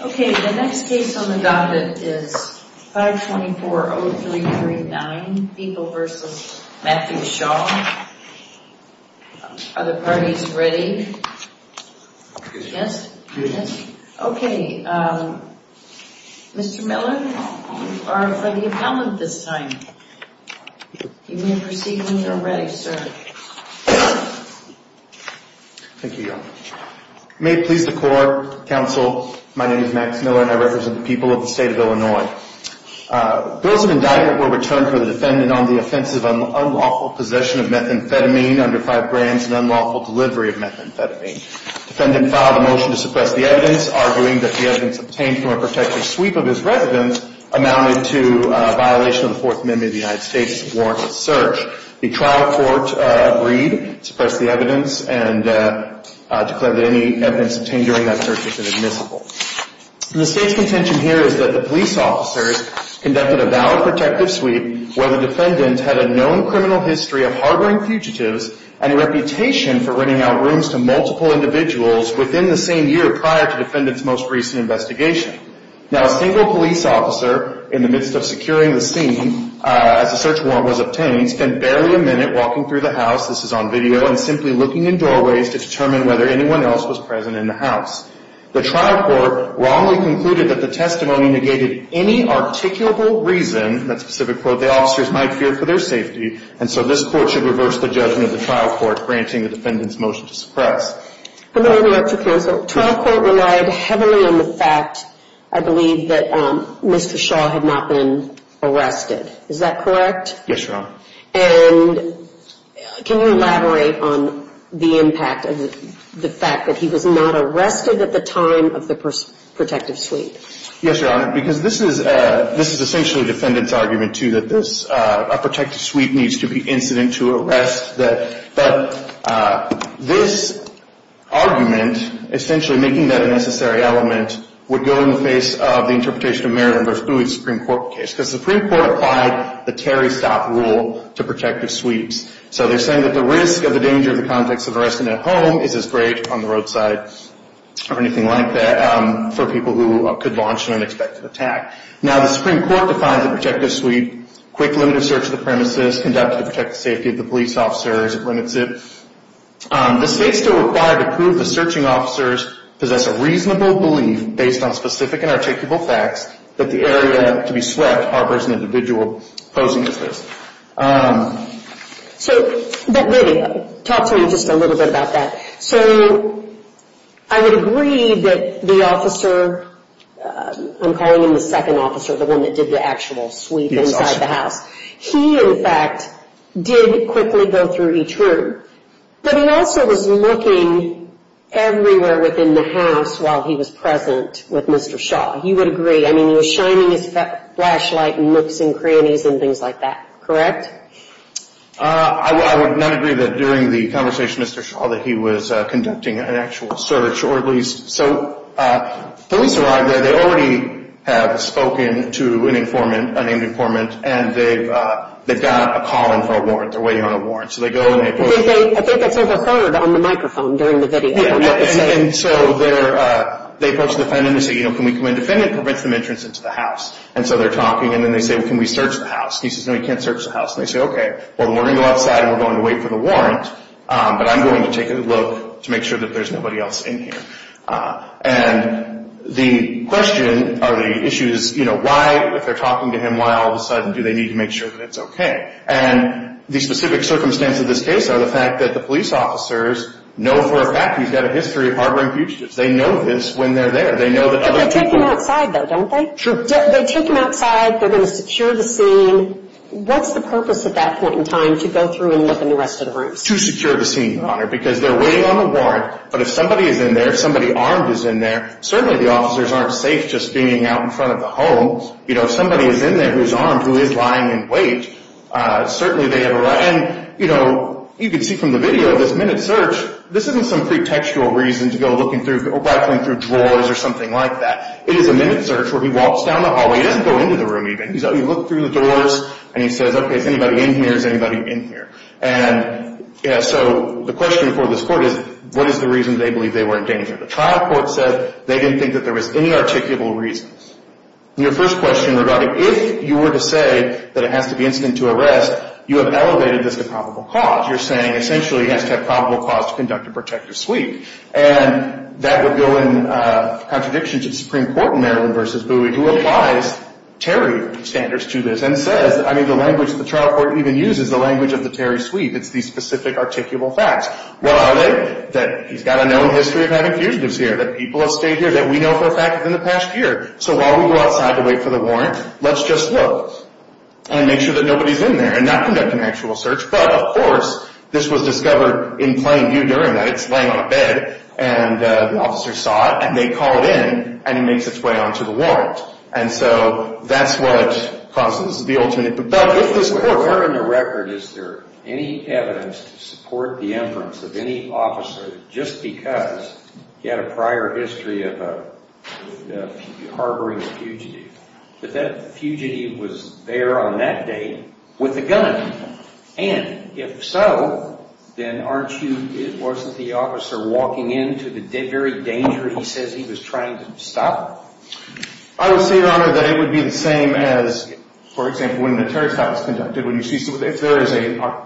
Okay, the next case on the docket is 524-0339, Beeple v. Matthew Shaw. Are the parties ready? Yes? Yes. Okay, Mr. Miller, you are for the appellant this time. You may proceed when you are ready, sir. Thank you. May it please the court, counsel, my name is Max Miller and I represent the people of the state of Illinois. Bill is an indictment where we turn to the defendant on the offensive unlawful possession of methamphetamine under five grands and unlawful delivery of methamphetamine. Defendant filed a motion to suppress the evidence, arguing that the evidence obtained from a protective sweep of his residence amounted to a violation of the Fourth Amendment of the United States warrantless search. The trial court agreed to suppress the evidence and declared that any evidence obtained during that search was inadmissible. The state's contention here is that the police officers conducted a valid protective sweep where the defendant had a known criminal history of harboring fugitives and a reputation for renting out rooms to multiple individuals within the same year prior to the defendant's most recent investigation. Now, a single police officer in the midst of securing the scene as the search warrant was obtained spent barely a minute walking through the house, this is on video, and simply looking in doorways to determine whether anyone else was present in the house. The trial court wrongly concluded that the testimony negated any articulable reason, that specific quote, the officers might fear for their safety, and so this court should reverse the judgment of the trial court, granting the defendant's motion to suppress. I'm going to go back to counsel. The trial court relied heavily on the fact, I believe, that Mr. Shaw had not been arrested. Is that correct? Yes, Your Honor. And can you elaborate on the impact of the fact that he was not arrested at the time of the protective sweep? Yes, Your Honor, because this is essentially the defendant's argument, too, that a protective sweep needs to be incident to arrest. But this argument, essentially making that a necessary element, would go in the face of the interpretation of Maryland v. Bowie of the Supreme Court case, because the Supreme Court applied the Terry stop rule to protective sweeps. So they're saying that the risk of the danger of the context of arresting at home is as great on the roadside, or anything like that, for people who could launch an unexpected attack. Now, the Supreme Court defines a protective sweep, quick, limited search of the premises, conduct of the protective safety of the police officers, it limits it. The state's still required to prove the searching officers possess a reasonable belief, based on specific and articulable facts, that the area to be swept harbors an individual posing as this. So, but really, talk to me just a little bit about that. So, I would agree that the officer, I'm calling him the second officer, the one that did the actual sweep inside the house. He, in fact, did quickly go through each room. But he also was looking everywhere within the house while he was present with Mr. Shaw. You would agree, I mean, he was shining his flashlight and nooks and crannies and things like that, correct? I would not agree that during the conversation with Mr. Shaw that he was conducting an actual search, or at least. So, police arrived there. They already have spoken to an informant, a named informant, and they've got a call in for a warrant. They're waiting on a warrant. So, they go and they approach. I think that's overheard on the microphone during the video. And so, they approach the defendant and say, you know, can we come in? The defendant prevents them entrance into the house. And so, they're talking and then they say, well, can we search the house? He says, no, you can't search the house. And they say, okay, well, we're going to go outside and we're going to wait for the warrant. But I'm going to take a look to make sure that there's nobody else in here. And the question or the issue is, you know, why, if they're talking to him, why all of a sudden do they need to make sure that it's okay? And the specific circumstance of this case are the fact that the police officers know for a fact he's got a history of harboring fugitives. They know this when they're there. They know that other people. But they take him outside, though, don't they? True. They take him outside. They're going to secure the scene. What's the purpose at that point in time to go through and look in the rest of the rooms? To secure the scene, Your Honor, because they're waiting on the warrant. But if somebody is in there, if somebody armed is in there, certainly the officers aren't safe just being out in front of the home. You know, if somebody is in there who's armed, who is lying in wait, certainly they have a right. And, you know, you can see from the video, this minute search, this isn't some pretextual reason to go looking through or rifling through drawers or something like that. It is a minute search where he walks down the hallway. He doesn't go into the room even. He looks through the doors and he says, okay, is anybody in here? Is anybody in here? And, you know, so the question for this court is what is the reason they believe they were in danger? The trial court said they didn't think that there was any articulable reasons. And your first question regarding if you were to say that it has to be instant to arrest, you have elevated this to probable cause. You're saying essentially it has to have probable cause to conduct a protective sweep. And that would go in contradiction to the Supreme Court in Maryland v. Bowie who applies Terry standards to this and says, I mean, the language the trial court even uses, the language of the Terry sweep. It's the specific articulable facts. What are they? That he's got a known history of having fugitives here, that people have stayed here, that we know for a fact within the past year. So while we go outside to wait for the warrant, let's just look and make sure that nobody is in there and not conduct an actual search. But, of course, this was discovered in plain view during that. It's laying on a bed. And the officer saw it. And they call it in. And it makes its way onto the warrant. And so that's what causes the alternate. But if this court were in the record, is there any evidence to support the inference of any officer just because he had a prior history of harboring a fugitive, that that fugitive was there on that date with a gun? And if so, then aren't you, wasn't the officer walking into the very danger he says he was trying to stop? I would say, Your Honor, that it would be the same as, for example, when a terrorist attack was conducted. When you see, if there is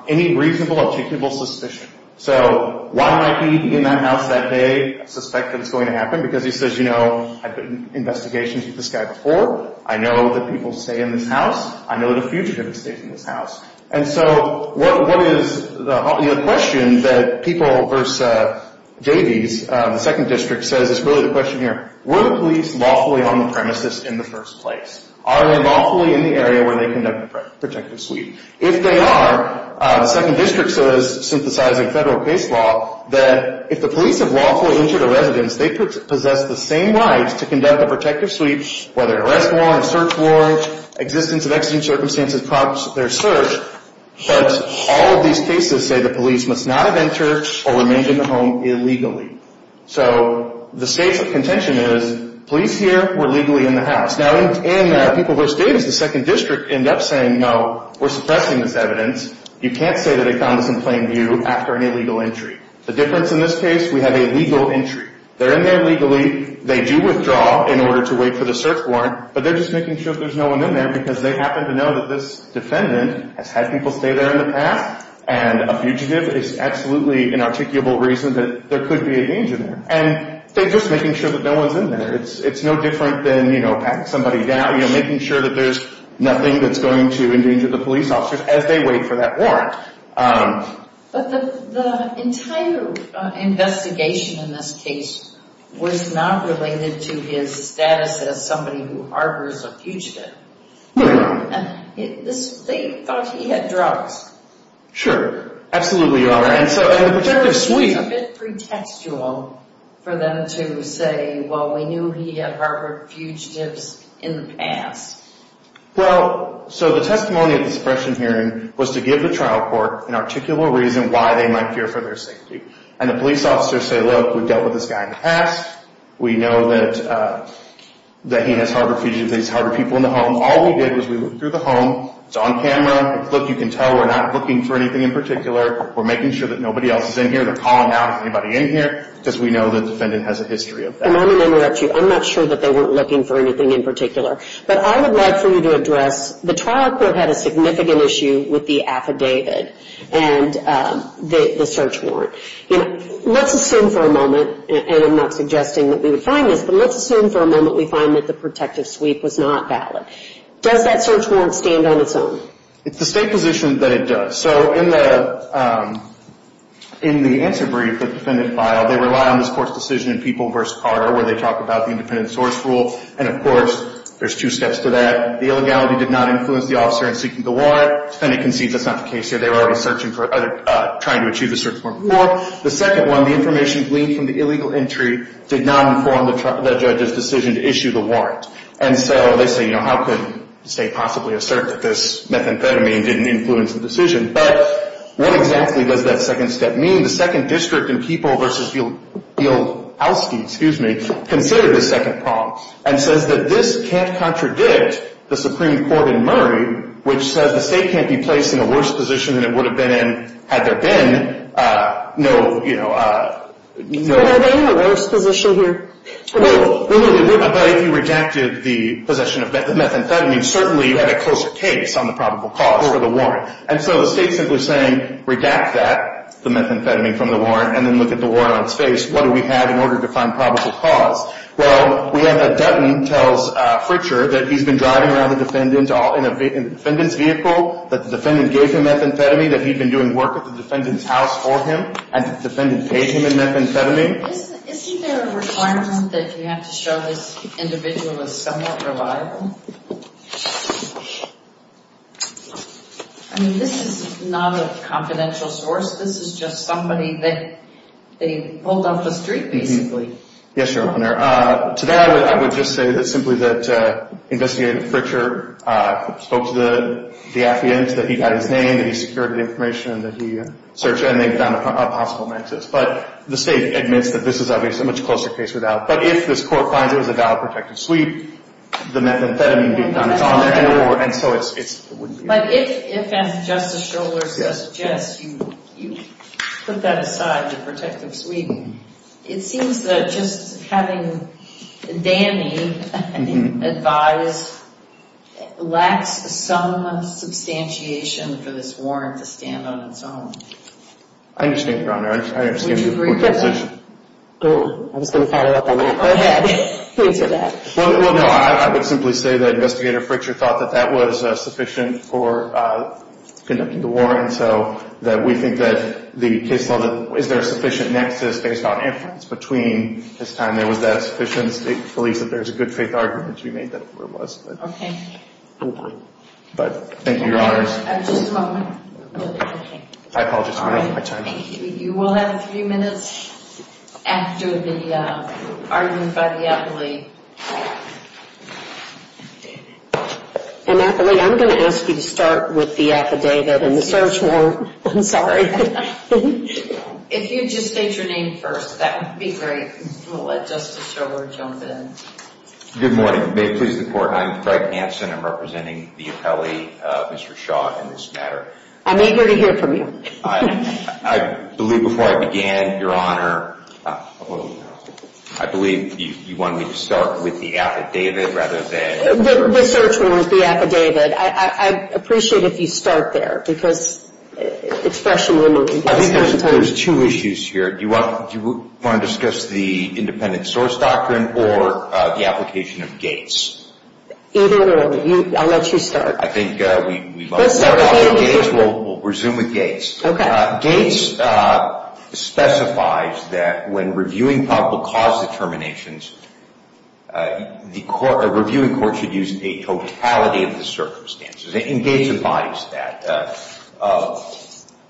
any reasonable articulable suspicion. So why might he, in that house that day, suspect that it's going to happen? Because he says, you know, I've been in investigations with this guy before. I know that people stay in this house. I know the fugitive stays in this house. And so what is the question that people versus Davies, the second district, says is really the question here. Were the police lawfully on the premises in the first place? Are they lawfully in the area where they conduct the protective sweep? If they are, the second district says, synthesizing federal case law, that if the police have lawfully entered a residence, they possess the same rights to conduct the protective sweep, whether arrest warrant, search warrant, existence of extreme circumstances, cause of their search. But all of these cases say the police must not have entered or remained in the home illegally. So the states of contention is, police here, we're legally in the house. Now, in people versus Davies, the second district end up saying, no, we're suppressing this evidence. You can't say that it comes in plain view after an illegal entry. The difference in this case, we have a legal entry. They're in there legally. They do withdraw in order to wait for the search warrant, but they're just making sure there's no one in there because they happen to know that this defendant has had people stay there in the past, and a fugitive is absolutely an articulable reason that there could be a danger there. And they're just making sure that no one's in there. It's no different than, you know, packing somebody down, you know, making sure that there's nothing that's going to endanger the police officers as they wait for that warrant. But the entire investigation in this case was not related to his status as somebody who harbors a fugitive. No. They thought he had drugs. Sure. Absolutely, Your Honor. And so in a particular suite. It's a bit pretextual for them to say, well, we knew he had harbored fugitives in the past. Well, so the testimony at the suppression hearing was to give the trial court an articulable reason why they might fear for their safety. And the police officers say, look, we've dealt with this guy in the past. We know that he has harbored fugitives. He's harbored people in the home. All we did was we looked through the home. It's on camera. Look, you can tell we're not looking for anything in particular. We're making sure that nobody else is in here. They're calling out anybody in here because we know the defendant has a history of that. And I'm going to interrupt you. I'm not sure that they weren't looking for anything in particular. But I would like for you to address the trial court had a significant issue with the affidavit and the search warrant. Let's assume for a moment, and I'm not suggesting that we would find this, but let's assume for a moment we find that the protective suite was not valid. Does that search warrant stand on its own? It's the state position that it does. So in the answer brief of the defendant file, they rely on this court's decision in People v. Carter where they talk about the independent source rule. And, of course, there's two steps to that. The illegality did not influence the officer in seeking the warrant. The defendant concedes that's not the case here. They were already searching for other – trying to achieve the search warrant before. The second one, the information gleaned from the illegal entry did not inform the judge's decision to issue the warrant. And so they say, you know, how could the state possibly assert that this methamphetamine didn't influence the decision? But what exactly does that second step mean? I mean, the second district in People v. Fieldowski, excuse me, considered this second problem and says that this can't contradict the Supreme Court in Murray, which says the state can't be placed in a worse position than it would have been in had there been no, you know – No, no, no. A worse position here. No, no, no. But if you redacted the possession of the methamphetamine, certainly you had a closer case on the probable cause for the warrant. And so the state's simply saying, redact that, the methamphetamine from the warrant, and then look at the warrant on its face. What do we have in order to find probable cause? Well, we have that Dutton tells Fritcher that he's been driving around the defendant in the defendant's vehicle, that the defendant gave him methamphetamine, that he'd been doing work at the defendant's house for him, and the defendant paid him the methamphetamine. Isn't there a requirement that you have to show this individual is somewhat reliable? I mean, this is not a confidential source. This is just somebody that they pulled off the street, basically. Yes, Your Honor. To that, I would just say that simply that investigator Fritcher spoke to the defendant, that he had his name, that he secured the information, and that he searched and they found a possible nexus. But the state admits that this is obviously a much closer case without. But if this court finds it was a valid protective sweep, the methamphetamine being done is on there, and so it's. But if, as Justice Strohler suggests, you put that aside, the protective sweep, it seems that just having Danny advise lacks some substantiation for this warrant to stand on its own. I understand, Your Honor. I understand your position. Would you agree with that? I was going to follow up on that. Go ahead. Please do that. Well, no. I would simply say that investigator Fritcher thought that that was sufficient for conducting the warrant, so that we think that the case is there a sufficient nexus based on inference between this time. There was that sufficient belief that there was a good faith argument to be made that it was. Okay. But thank you, Your Honors. Just a moment. I apologize for taking my time. Thank you. You will have three minutes after the argument by the appellee. Appellee, I'm going to ask you to start with the affidavit and the search warrant. I'm sorry. If you'd just state your name first, that would be great. We'll let Justice Strohler jump in. Good morning. May it please the Court, I am Fred Hanson. I'm representing the appellee, Mr. Shaw, in this matter. I'm eager to hear from you. I believe before I began, Your Honor, I believe you want me to start with the affidavit rather than... The search warrant, the affidavit. I'd appreciate it if you start there because it's fresh in my mind. I think there's two issues here. Do you want to discuss the independent source doctrine or the application of Gates? Either or. I'll let you start. Let's start with Gates. We'll resume with Gates. Gates specifies that when reviewing probable cause determinations, the reviewing court should use a totality of the circumstances, and Gates embodies that.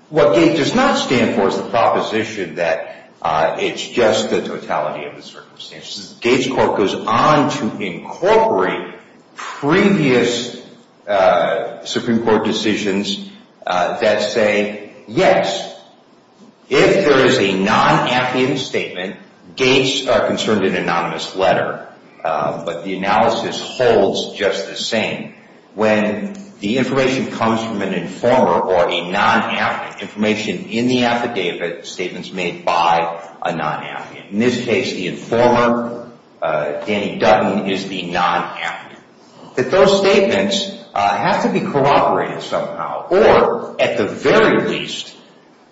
What Gates does not stand for is the proposition that it's just the totality of the circumstances. Gates Court goes on to incorporate previous Supreme Court decisions that say, yes, if there is a non-affidavit statement, Gates are concerned in an anonymous letter, but the analysis holds just the same. When the information comes from an informer or a non-affidavit, information in the affidavit, statements made by a non-affidavit. In this case, the informer, Danny Dutton, is the non-affidavit. Those statements have to be corroborated somehow, or at the very least,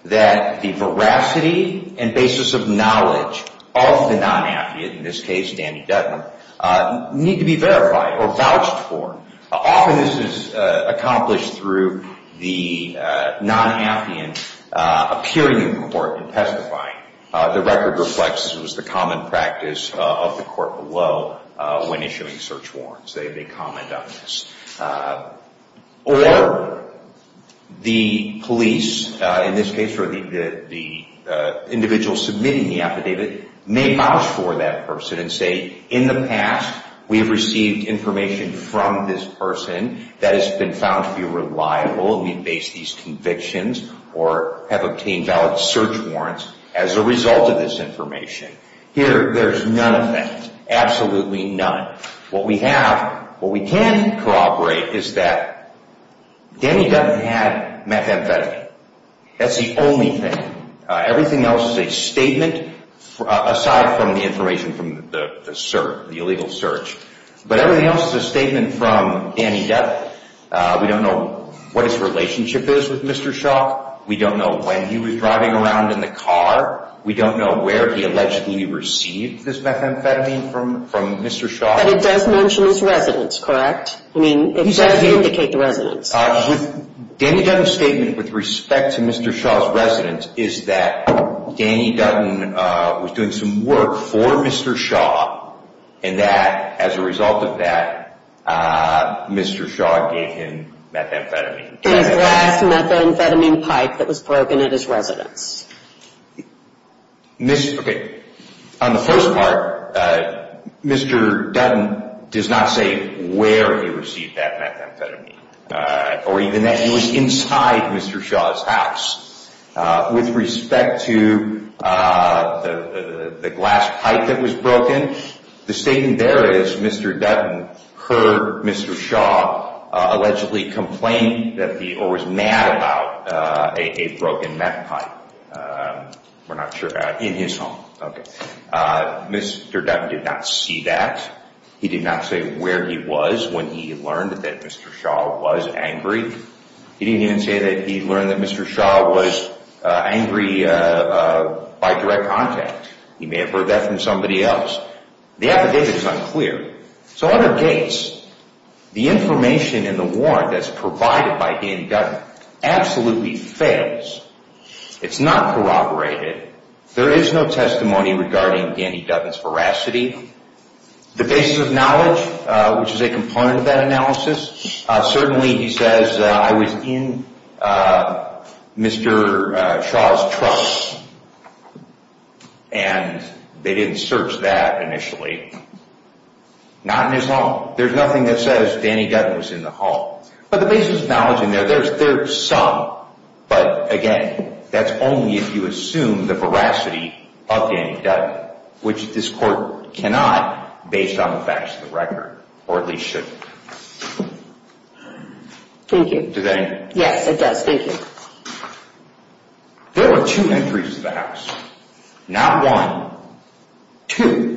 that the veracity and basis of knowledge of the non-affidavit, in this case Danny Dutton, need to be verified or vouched for. Often this is accomplished through the non-affidavit appearing in court and testifying. The record reflects the common practice of the court below when issuing search warrants. They comment on this. Or the police, in this case, or the individual submitting the affidavit, may vouch for that person and say, in the past, we've received information from this person that has been found to be reliable, and we've based these convictions or have obtained valid search warrants as a result of this information. Here, there's none of that. Absolutely none. What we have, what we can corroborate, is that Danny Dutton had methamphetamine. That's the only thing. Everything else is a statement aside from the information from the search, the illegal search. But everything else is a statement from Danny Dutton. We don't know what his relationship is with Mr. Shaw. We don't know when he was driving around in the car. We don't know where he allegedly received this methamphetamine from Mr. Shaw. But it does mention his residence, correct? I mean, it does indicate the residence. Danny Dutton's statement with respect to Mr. Shaw's residence is that Danny Dutton was doing some work for Mr. Shaw, and that, as a result of that, Mr. Shaw gave him methamphetamine. A glass methamphetamine pipe that was broken at his residence. Okay, on the first part, Mr. Dutton does not say where he received that methamphetamine, or even that it was inside Mr. Shaw's house. With respect to the glass pipe that was broken, the statement there is Mr. Dutton heard Mr. Shaw allegedly complain or was mad about a broken meth pipe in his home. Mr. Dutton did not see that. He did not say where he was when he learned that Mr. Shaw was angry. He didn't even say that he learned that Mr. Shaw was angry by direct contact. He may have heard that from somebody else. The affidavit is unclear. So, under gates, the information in the warrant that's provided by Danny Dutton absolutely fails. It's not corroborated. There is no testimony regarding Danny Dutton's veracity. The basis of knowledge, which is a component of that analysis, Certainly, he says, I was in Mr. Shaw's truck. And they didn't search that initially. Not in his home. There's nothing that says Danny Dutton was in the home. But the basis of knowledge in there, there's some. But, again, that's only if you assume the veracity of Danny Dutton, which this court cannot, based on the facts of the record. Or at least shouldn't. Thank you. Does that answer it? Yes, it does. Thank you. There were two entries to the house. Not one. Two.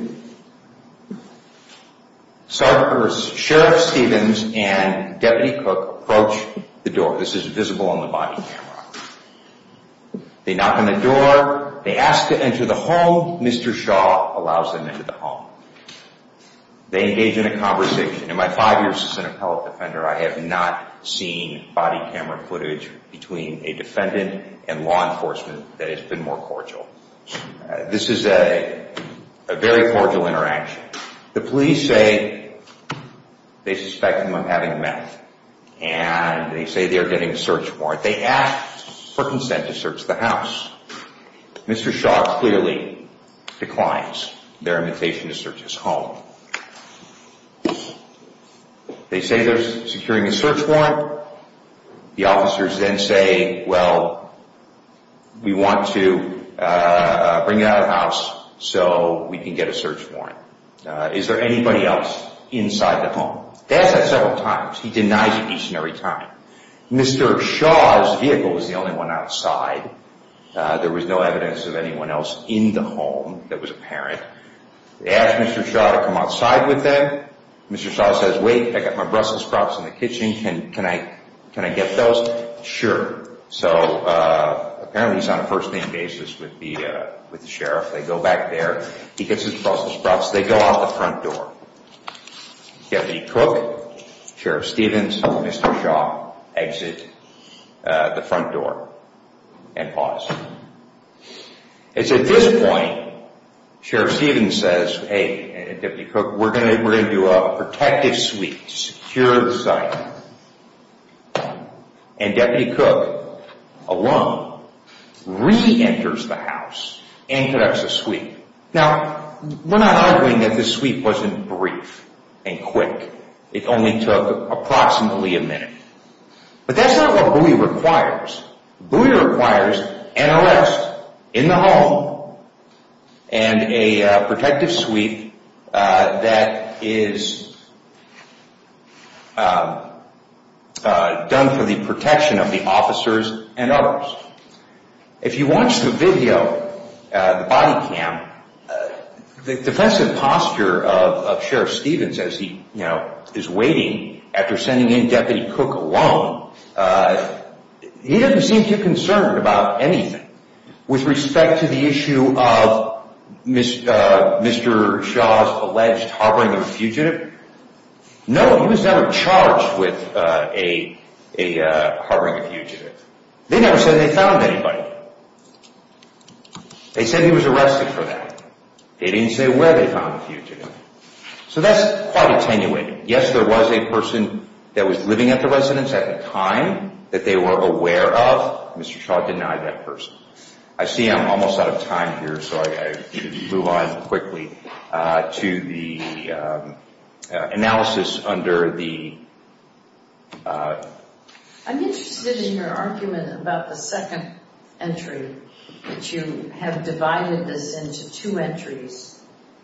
Sheriff Stevens and Deputy Cook approached the door. This is visible on the body camera. They knock on the door. They ask to enter the home. Mr. Shaw allows them into the home. They engage in a conversation. In my five years as an appellate defender, I have not seen body camera footage between a defendant and law enforcement that has been more cordial. This is a very cordial interaction. The police say they suspect him of having meth. And they say they are getting a search warrant. They ask for consent to search the house. Mr. Shaw clearly declines their invitation to search his home. They say they're securing a search warrant. The officers then say, well, we want to bring it out of the house so we can get a search warrant. Is there anybody else inside the home? They ask that several times. He denies it each and every time. Mr. Shaw's vehicle was the only one outside. There was no evidence of anyone else in the home that was apparent. They ask Mr. Shaw to come outside with them. Mr. Shaw says, wait, I've got my Brussels sprouts in the kitchen. Can I get those? Sure. So apparently he's on a first-name basis with the sheriff. They go back there. He gets his Brussels sprouts. They go out the front door. Deputy Cook, Sheriff Stevens, Mr. Shaw exit the front door and pause. It's at this point Sheriff Stevens says, hey, Deputy Cook, we're going to do a protective sweep, secure the site. And Deputy Cook, alone, re-enters the house and conducts a sweep. Now, we're not arguing that this sweep wasn't brief and quick. It only took approximately a minute. But that's not what Bowie requires. Bowie requires an arrest in the home and a protective sweep that is done for the protection of the officers and others. If you watch the video, the body cam, the defensive posture of Sheriff Stevens as he is waiting after sending in Deputy Cook alone, he doesn't seem too concerned about anything. With respect to the issue of Mr. Shaw's alleged harboring a fugitive, no, he was never charged with harboring a fugitive. They never said they found anybody. They said he was arrested for that. They didn't say where they found the fugitive. So that's quite attenuating. Yes, there was a person that was living at the residence at the time that they were aware of. Mr. Shaw denied that person. I see I'm almost out of time here, so I move on quickly to the analysis under the… I'm interested in your argument about the second entry, that you have divided this into two entries.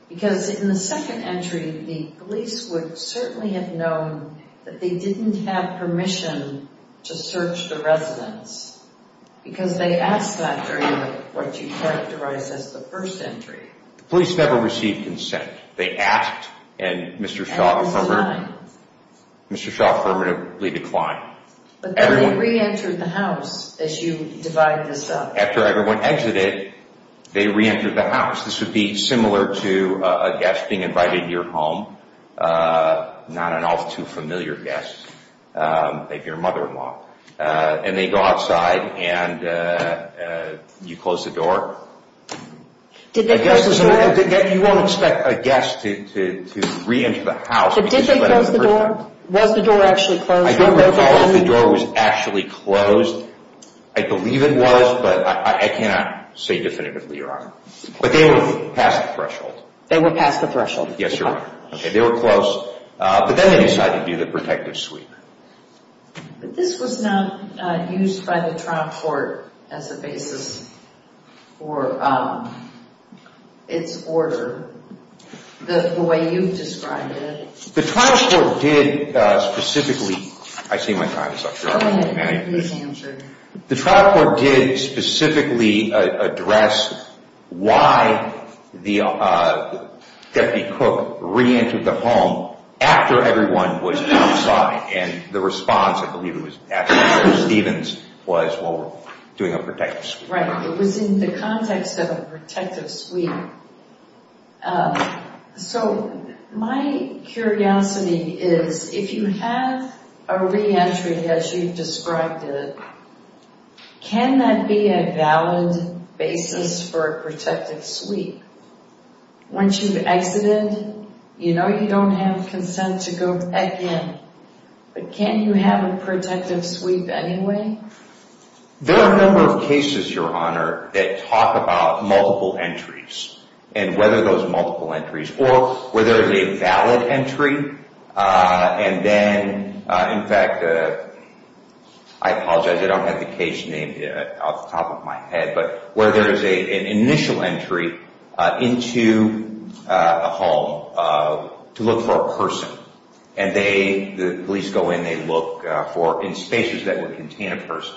Because in the second entry, the police would certainly have known that they didn't have permission to search the residence because they asked that during what you characterized as the first entry. The police never received consent. They asked, and Mr. Shaw affirmatively declined. But then they re-entered the house as you divide this up. After everyone exited, they re-entered the house. This would be similar to a guest being invited to your home, not an all-too-familiar guest, like your mother-in-law. And they go outside, and you close the door. Did they close the door? You won't expect a guest to re-enter the house. But did they close the door? Was the door actually closed? I don't recall if the door was actually closed. I believe it was, but I cannot say definitively, Your Honor. But they were past the threshold. They were past the threshold. Yes, Your Honor. They were closed, but then they decided to do the protective sweep. But this was not used by the trial court as a basis for its order the way you've described it. The trial court did specifically—I see my time is up, Your Honor. Go ahead. Please answer. The trial court did specifically address why Deputy Cook re-entered the home after everyone was outside. And the response, I believe, was after Stevens was doing a protective sweep. Right. It was in the context of a protective sweep. So my curiosity is, if you have a re-entry as you've described it, can that be a valid basis for a protective sweep? Once you've exited, you know you don't have consent to go again. But can you have a protective sweep anyway? There are a number of cases, Your Honor, that talk about multiple entries and whether those multiple entries—or where there is a valid entry, and then—in fact, I apologize. I don't have the case name off the top of my head. But where there is an initial entry into a home to look for a person, and the police go in. They look in spaces that would contain a person,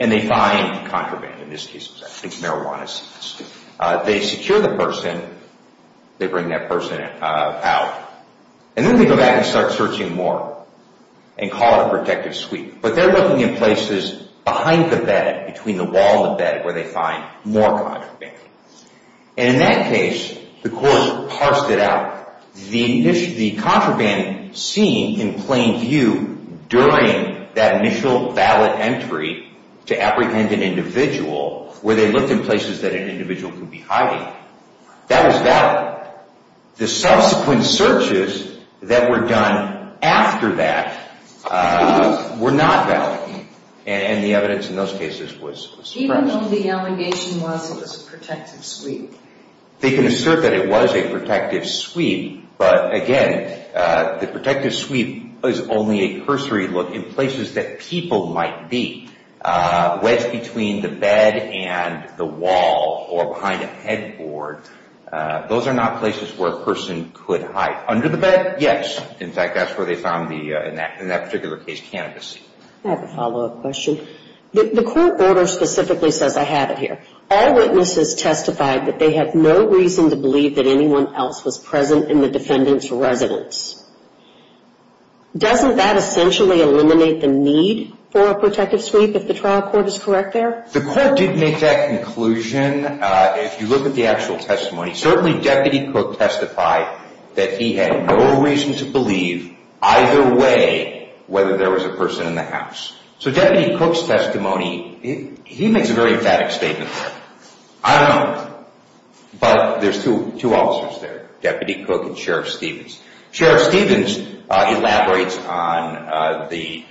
and they find contraband. In this case, it was, I think, marijuana seeds. They secure the person. They bring that person out. And then they go back and start searching more and call it a protective sweep. But they're looking in places behind the bed, between the wall and the bed, where they find more contraband. And in that case, the court parsed it out. The contraband seen in plain view during that initial valid entry to apprehend an individual, where they looked in places that an individual could be hiding, that was valid. The subsequent searches that were done after that were not valid. And the evidence in those cases was correct. Even though the allegation was that it was a protective sweep? They can assert that it was a protective sweep. But again, the protective sweep is only a cursory look in places that people might be. Wedge between the bed and the wall or behind a headboard. Those are not places where a person could hide. Under the bed, yes. In fact, that's where they found, in that particular case, cannabis seeds. I have a follow-up question. The court order specifically says I have it here. All witnesses testified that they had no reason to believe that anyone else was present in the defendant's residence. Doesn't that essentially eliminate the need for a protective sweep, if the trial court is correct there? The court did make that conclusion. If you look at the actual testimony, certainly Deputy Cook testified that he had no reason to believe either way whether there was a person in the house. So Deputy Cook's testimony, he makes a very emphatic statement there. I don't know. But there's two officers there, Deputy Cook and Sheriff Stevens. Sheriff Stevens elaborates on the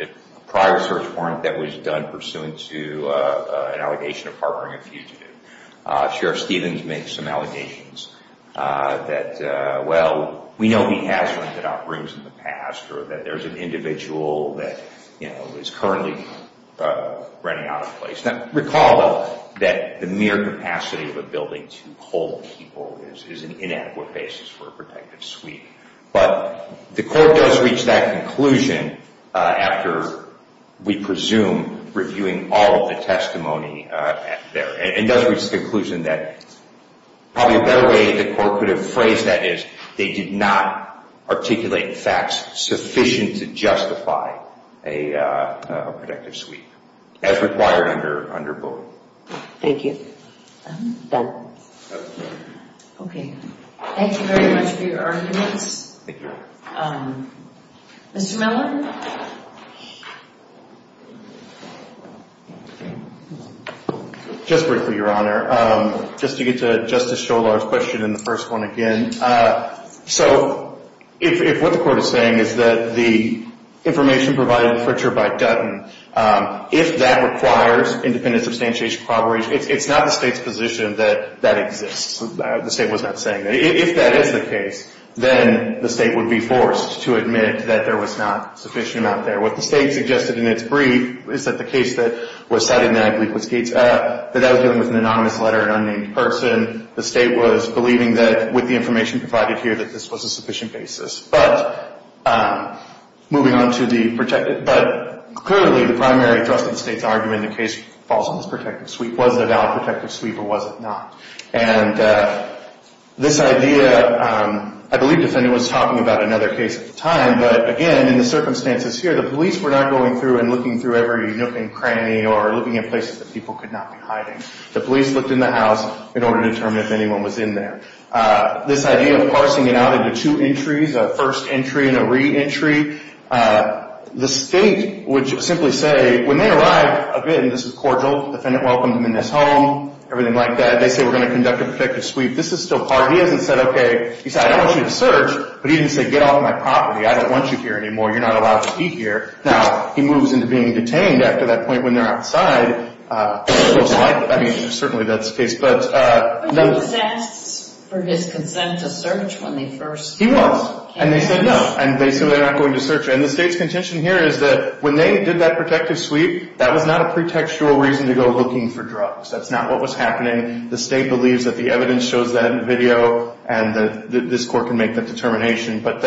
prior search warrant that was done pursuant to an allegation of harboring a fugitive. Sheriff Stevens makes some allegations that, well, we know he has rented out rooms in the past or that there's an individual that is currently running out of place. Now, recall that the mere capacity of a building to hold people is an inadequate basis for a protective sweep. But the court does reach that conclusion after, we presume, reviewing all of the testimony there. It does reach the conclusion that probably a better way the court could have phrased that is they did not articulate facts sufficient to justify a protective sweep as required under Bowie. Thank you. Okay. Thank you very much for your arguments. Thank you. Mr. Miller? Just briefly, Your Honor. Just to get to Justice Sholar's question in the first one again. So if what the court is saying is that the information provided in Fritcher by Dutton, if that requires independent substantiation, it's not the State's position that that exists. The State was not saying that. If that is the case, then the State would be forced to admit that there was not sufficient out there. What the State suggested in its brief is that the case that was cited, and I believe it was Gates, that that was dealing with an anonymous letter, an unnamed person. The State was believing that with the information provided here, that this was a sufficient basis. But moving on to the protected, but clearly the primary thrust of the State's argument in the case falls on this protective sweep. Was it a valid protective sweep or was it not? And this idea, I believe the defendant was talking about another case at the time, but again, in the circumstances here, the police were not going through and looking through every nook and cranny or looking at places that people could not be hiding. The police looked in the house in order to determine if anyone was in there. This idea of parsing it out into two entries, a first entry and a re-entry, the State would simply say, when they arrived, again, this is cordial, the defendant welcomed them in his home, everything like that. They say, we're going to conduct a protective sweep. This is still part. He hasn't said, okay. He said, I don't want you to search. But he didn't say, get off my property. I don't want you here anymore. You're not allowed to be here. Now, he moves into being detained after that point when they're outside. I mean, certainly that's the case. But he was asked for his consent to search when they first came in. He was. And they said no. And so they're not going to search. And the State's contention here is that when they did that protective sweep, that was not a pretextual reason to go looking for drugs. That's not what was happening. The State believes that the evidence shows that in the video, and this court can make that determination. But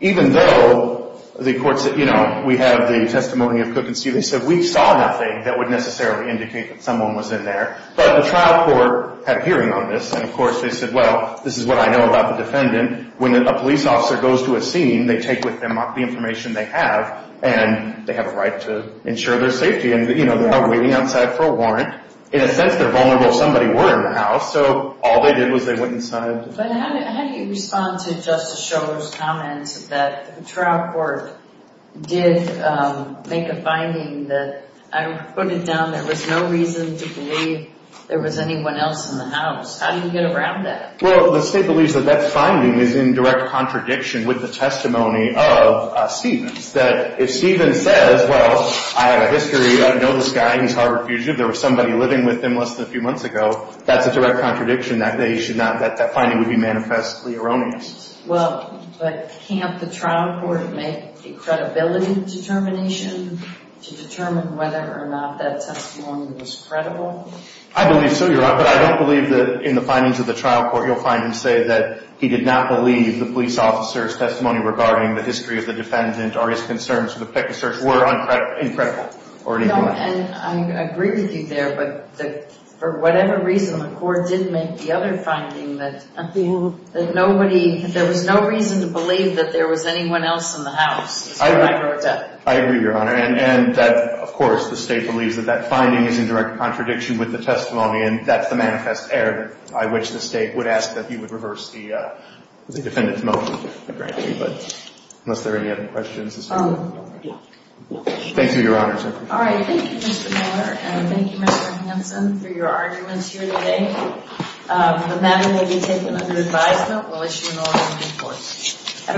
even though the court said, you know, we have the testimony of Cook and Steele, they said, we saw nothing that would necessarily indicate that someone was in there. But the trial court had a hearing on this. And, of course, they said, well, this is what I know about the defendant. When a police officer goes to a scene, they take with them the information they have, and they have a right to ensure their safety. And, you know, they're not waiting outside for a warrant. In a sense, they're vulnerable if somebody were in the house. So all they did was they went inside. But how do you respond to Justice Schor's comments that the trial court did make a finding that, I put it down, there was no reason to believe there was anyone else in the house? How do you get around that? Well, the State believes that that finding is in direct contradiction with the testimony of Stevens. That if Stevens says, well, I have a history. I know this guy. He's Harvard fugitive. There was somebody living with him less than a few months ago. That's a direct contradiction. That finding would be manifestly erroneous. Well, but can't the trial court make a credibility determination to determine whether or not that testimony was credible? I believe so, Your Honor. But I don't believe that in the findings of the trial court, you'll find him say that he did not believe the police officer's testimony regarding the history of the defendant or his concerns with the pick and search were incredible or anything like that. No, and I agree with you there. But for whatever reason, the court did make the other finding that nobody, there was no reason to believe that there was anyone else in the house. That's how I wrote that. I agree, Your Honor. And of course, the State believes that that finding is in direct contradiction with the testimony. And that's the manifest error by which the State would ask that you would reverse the defendant's motion. Unless there are any other questions. Thank you, Your Honor. All right. Thank you, Mr. Miller. And thank you, Mr. Hanson, for your arguments here today. The matter may be taken under advisement. We'll issue an order in due course.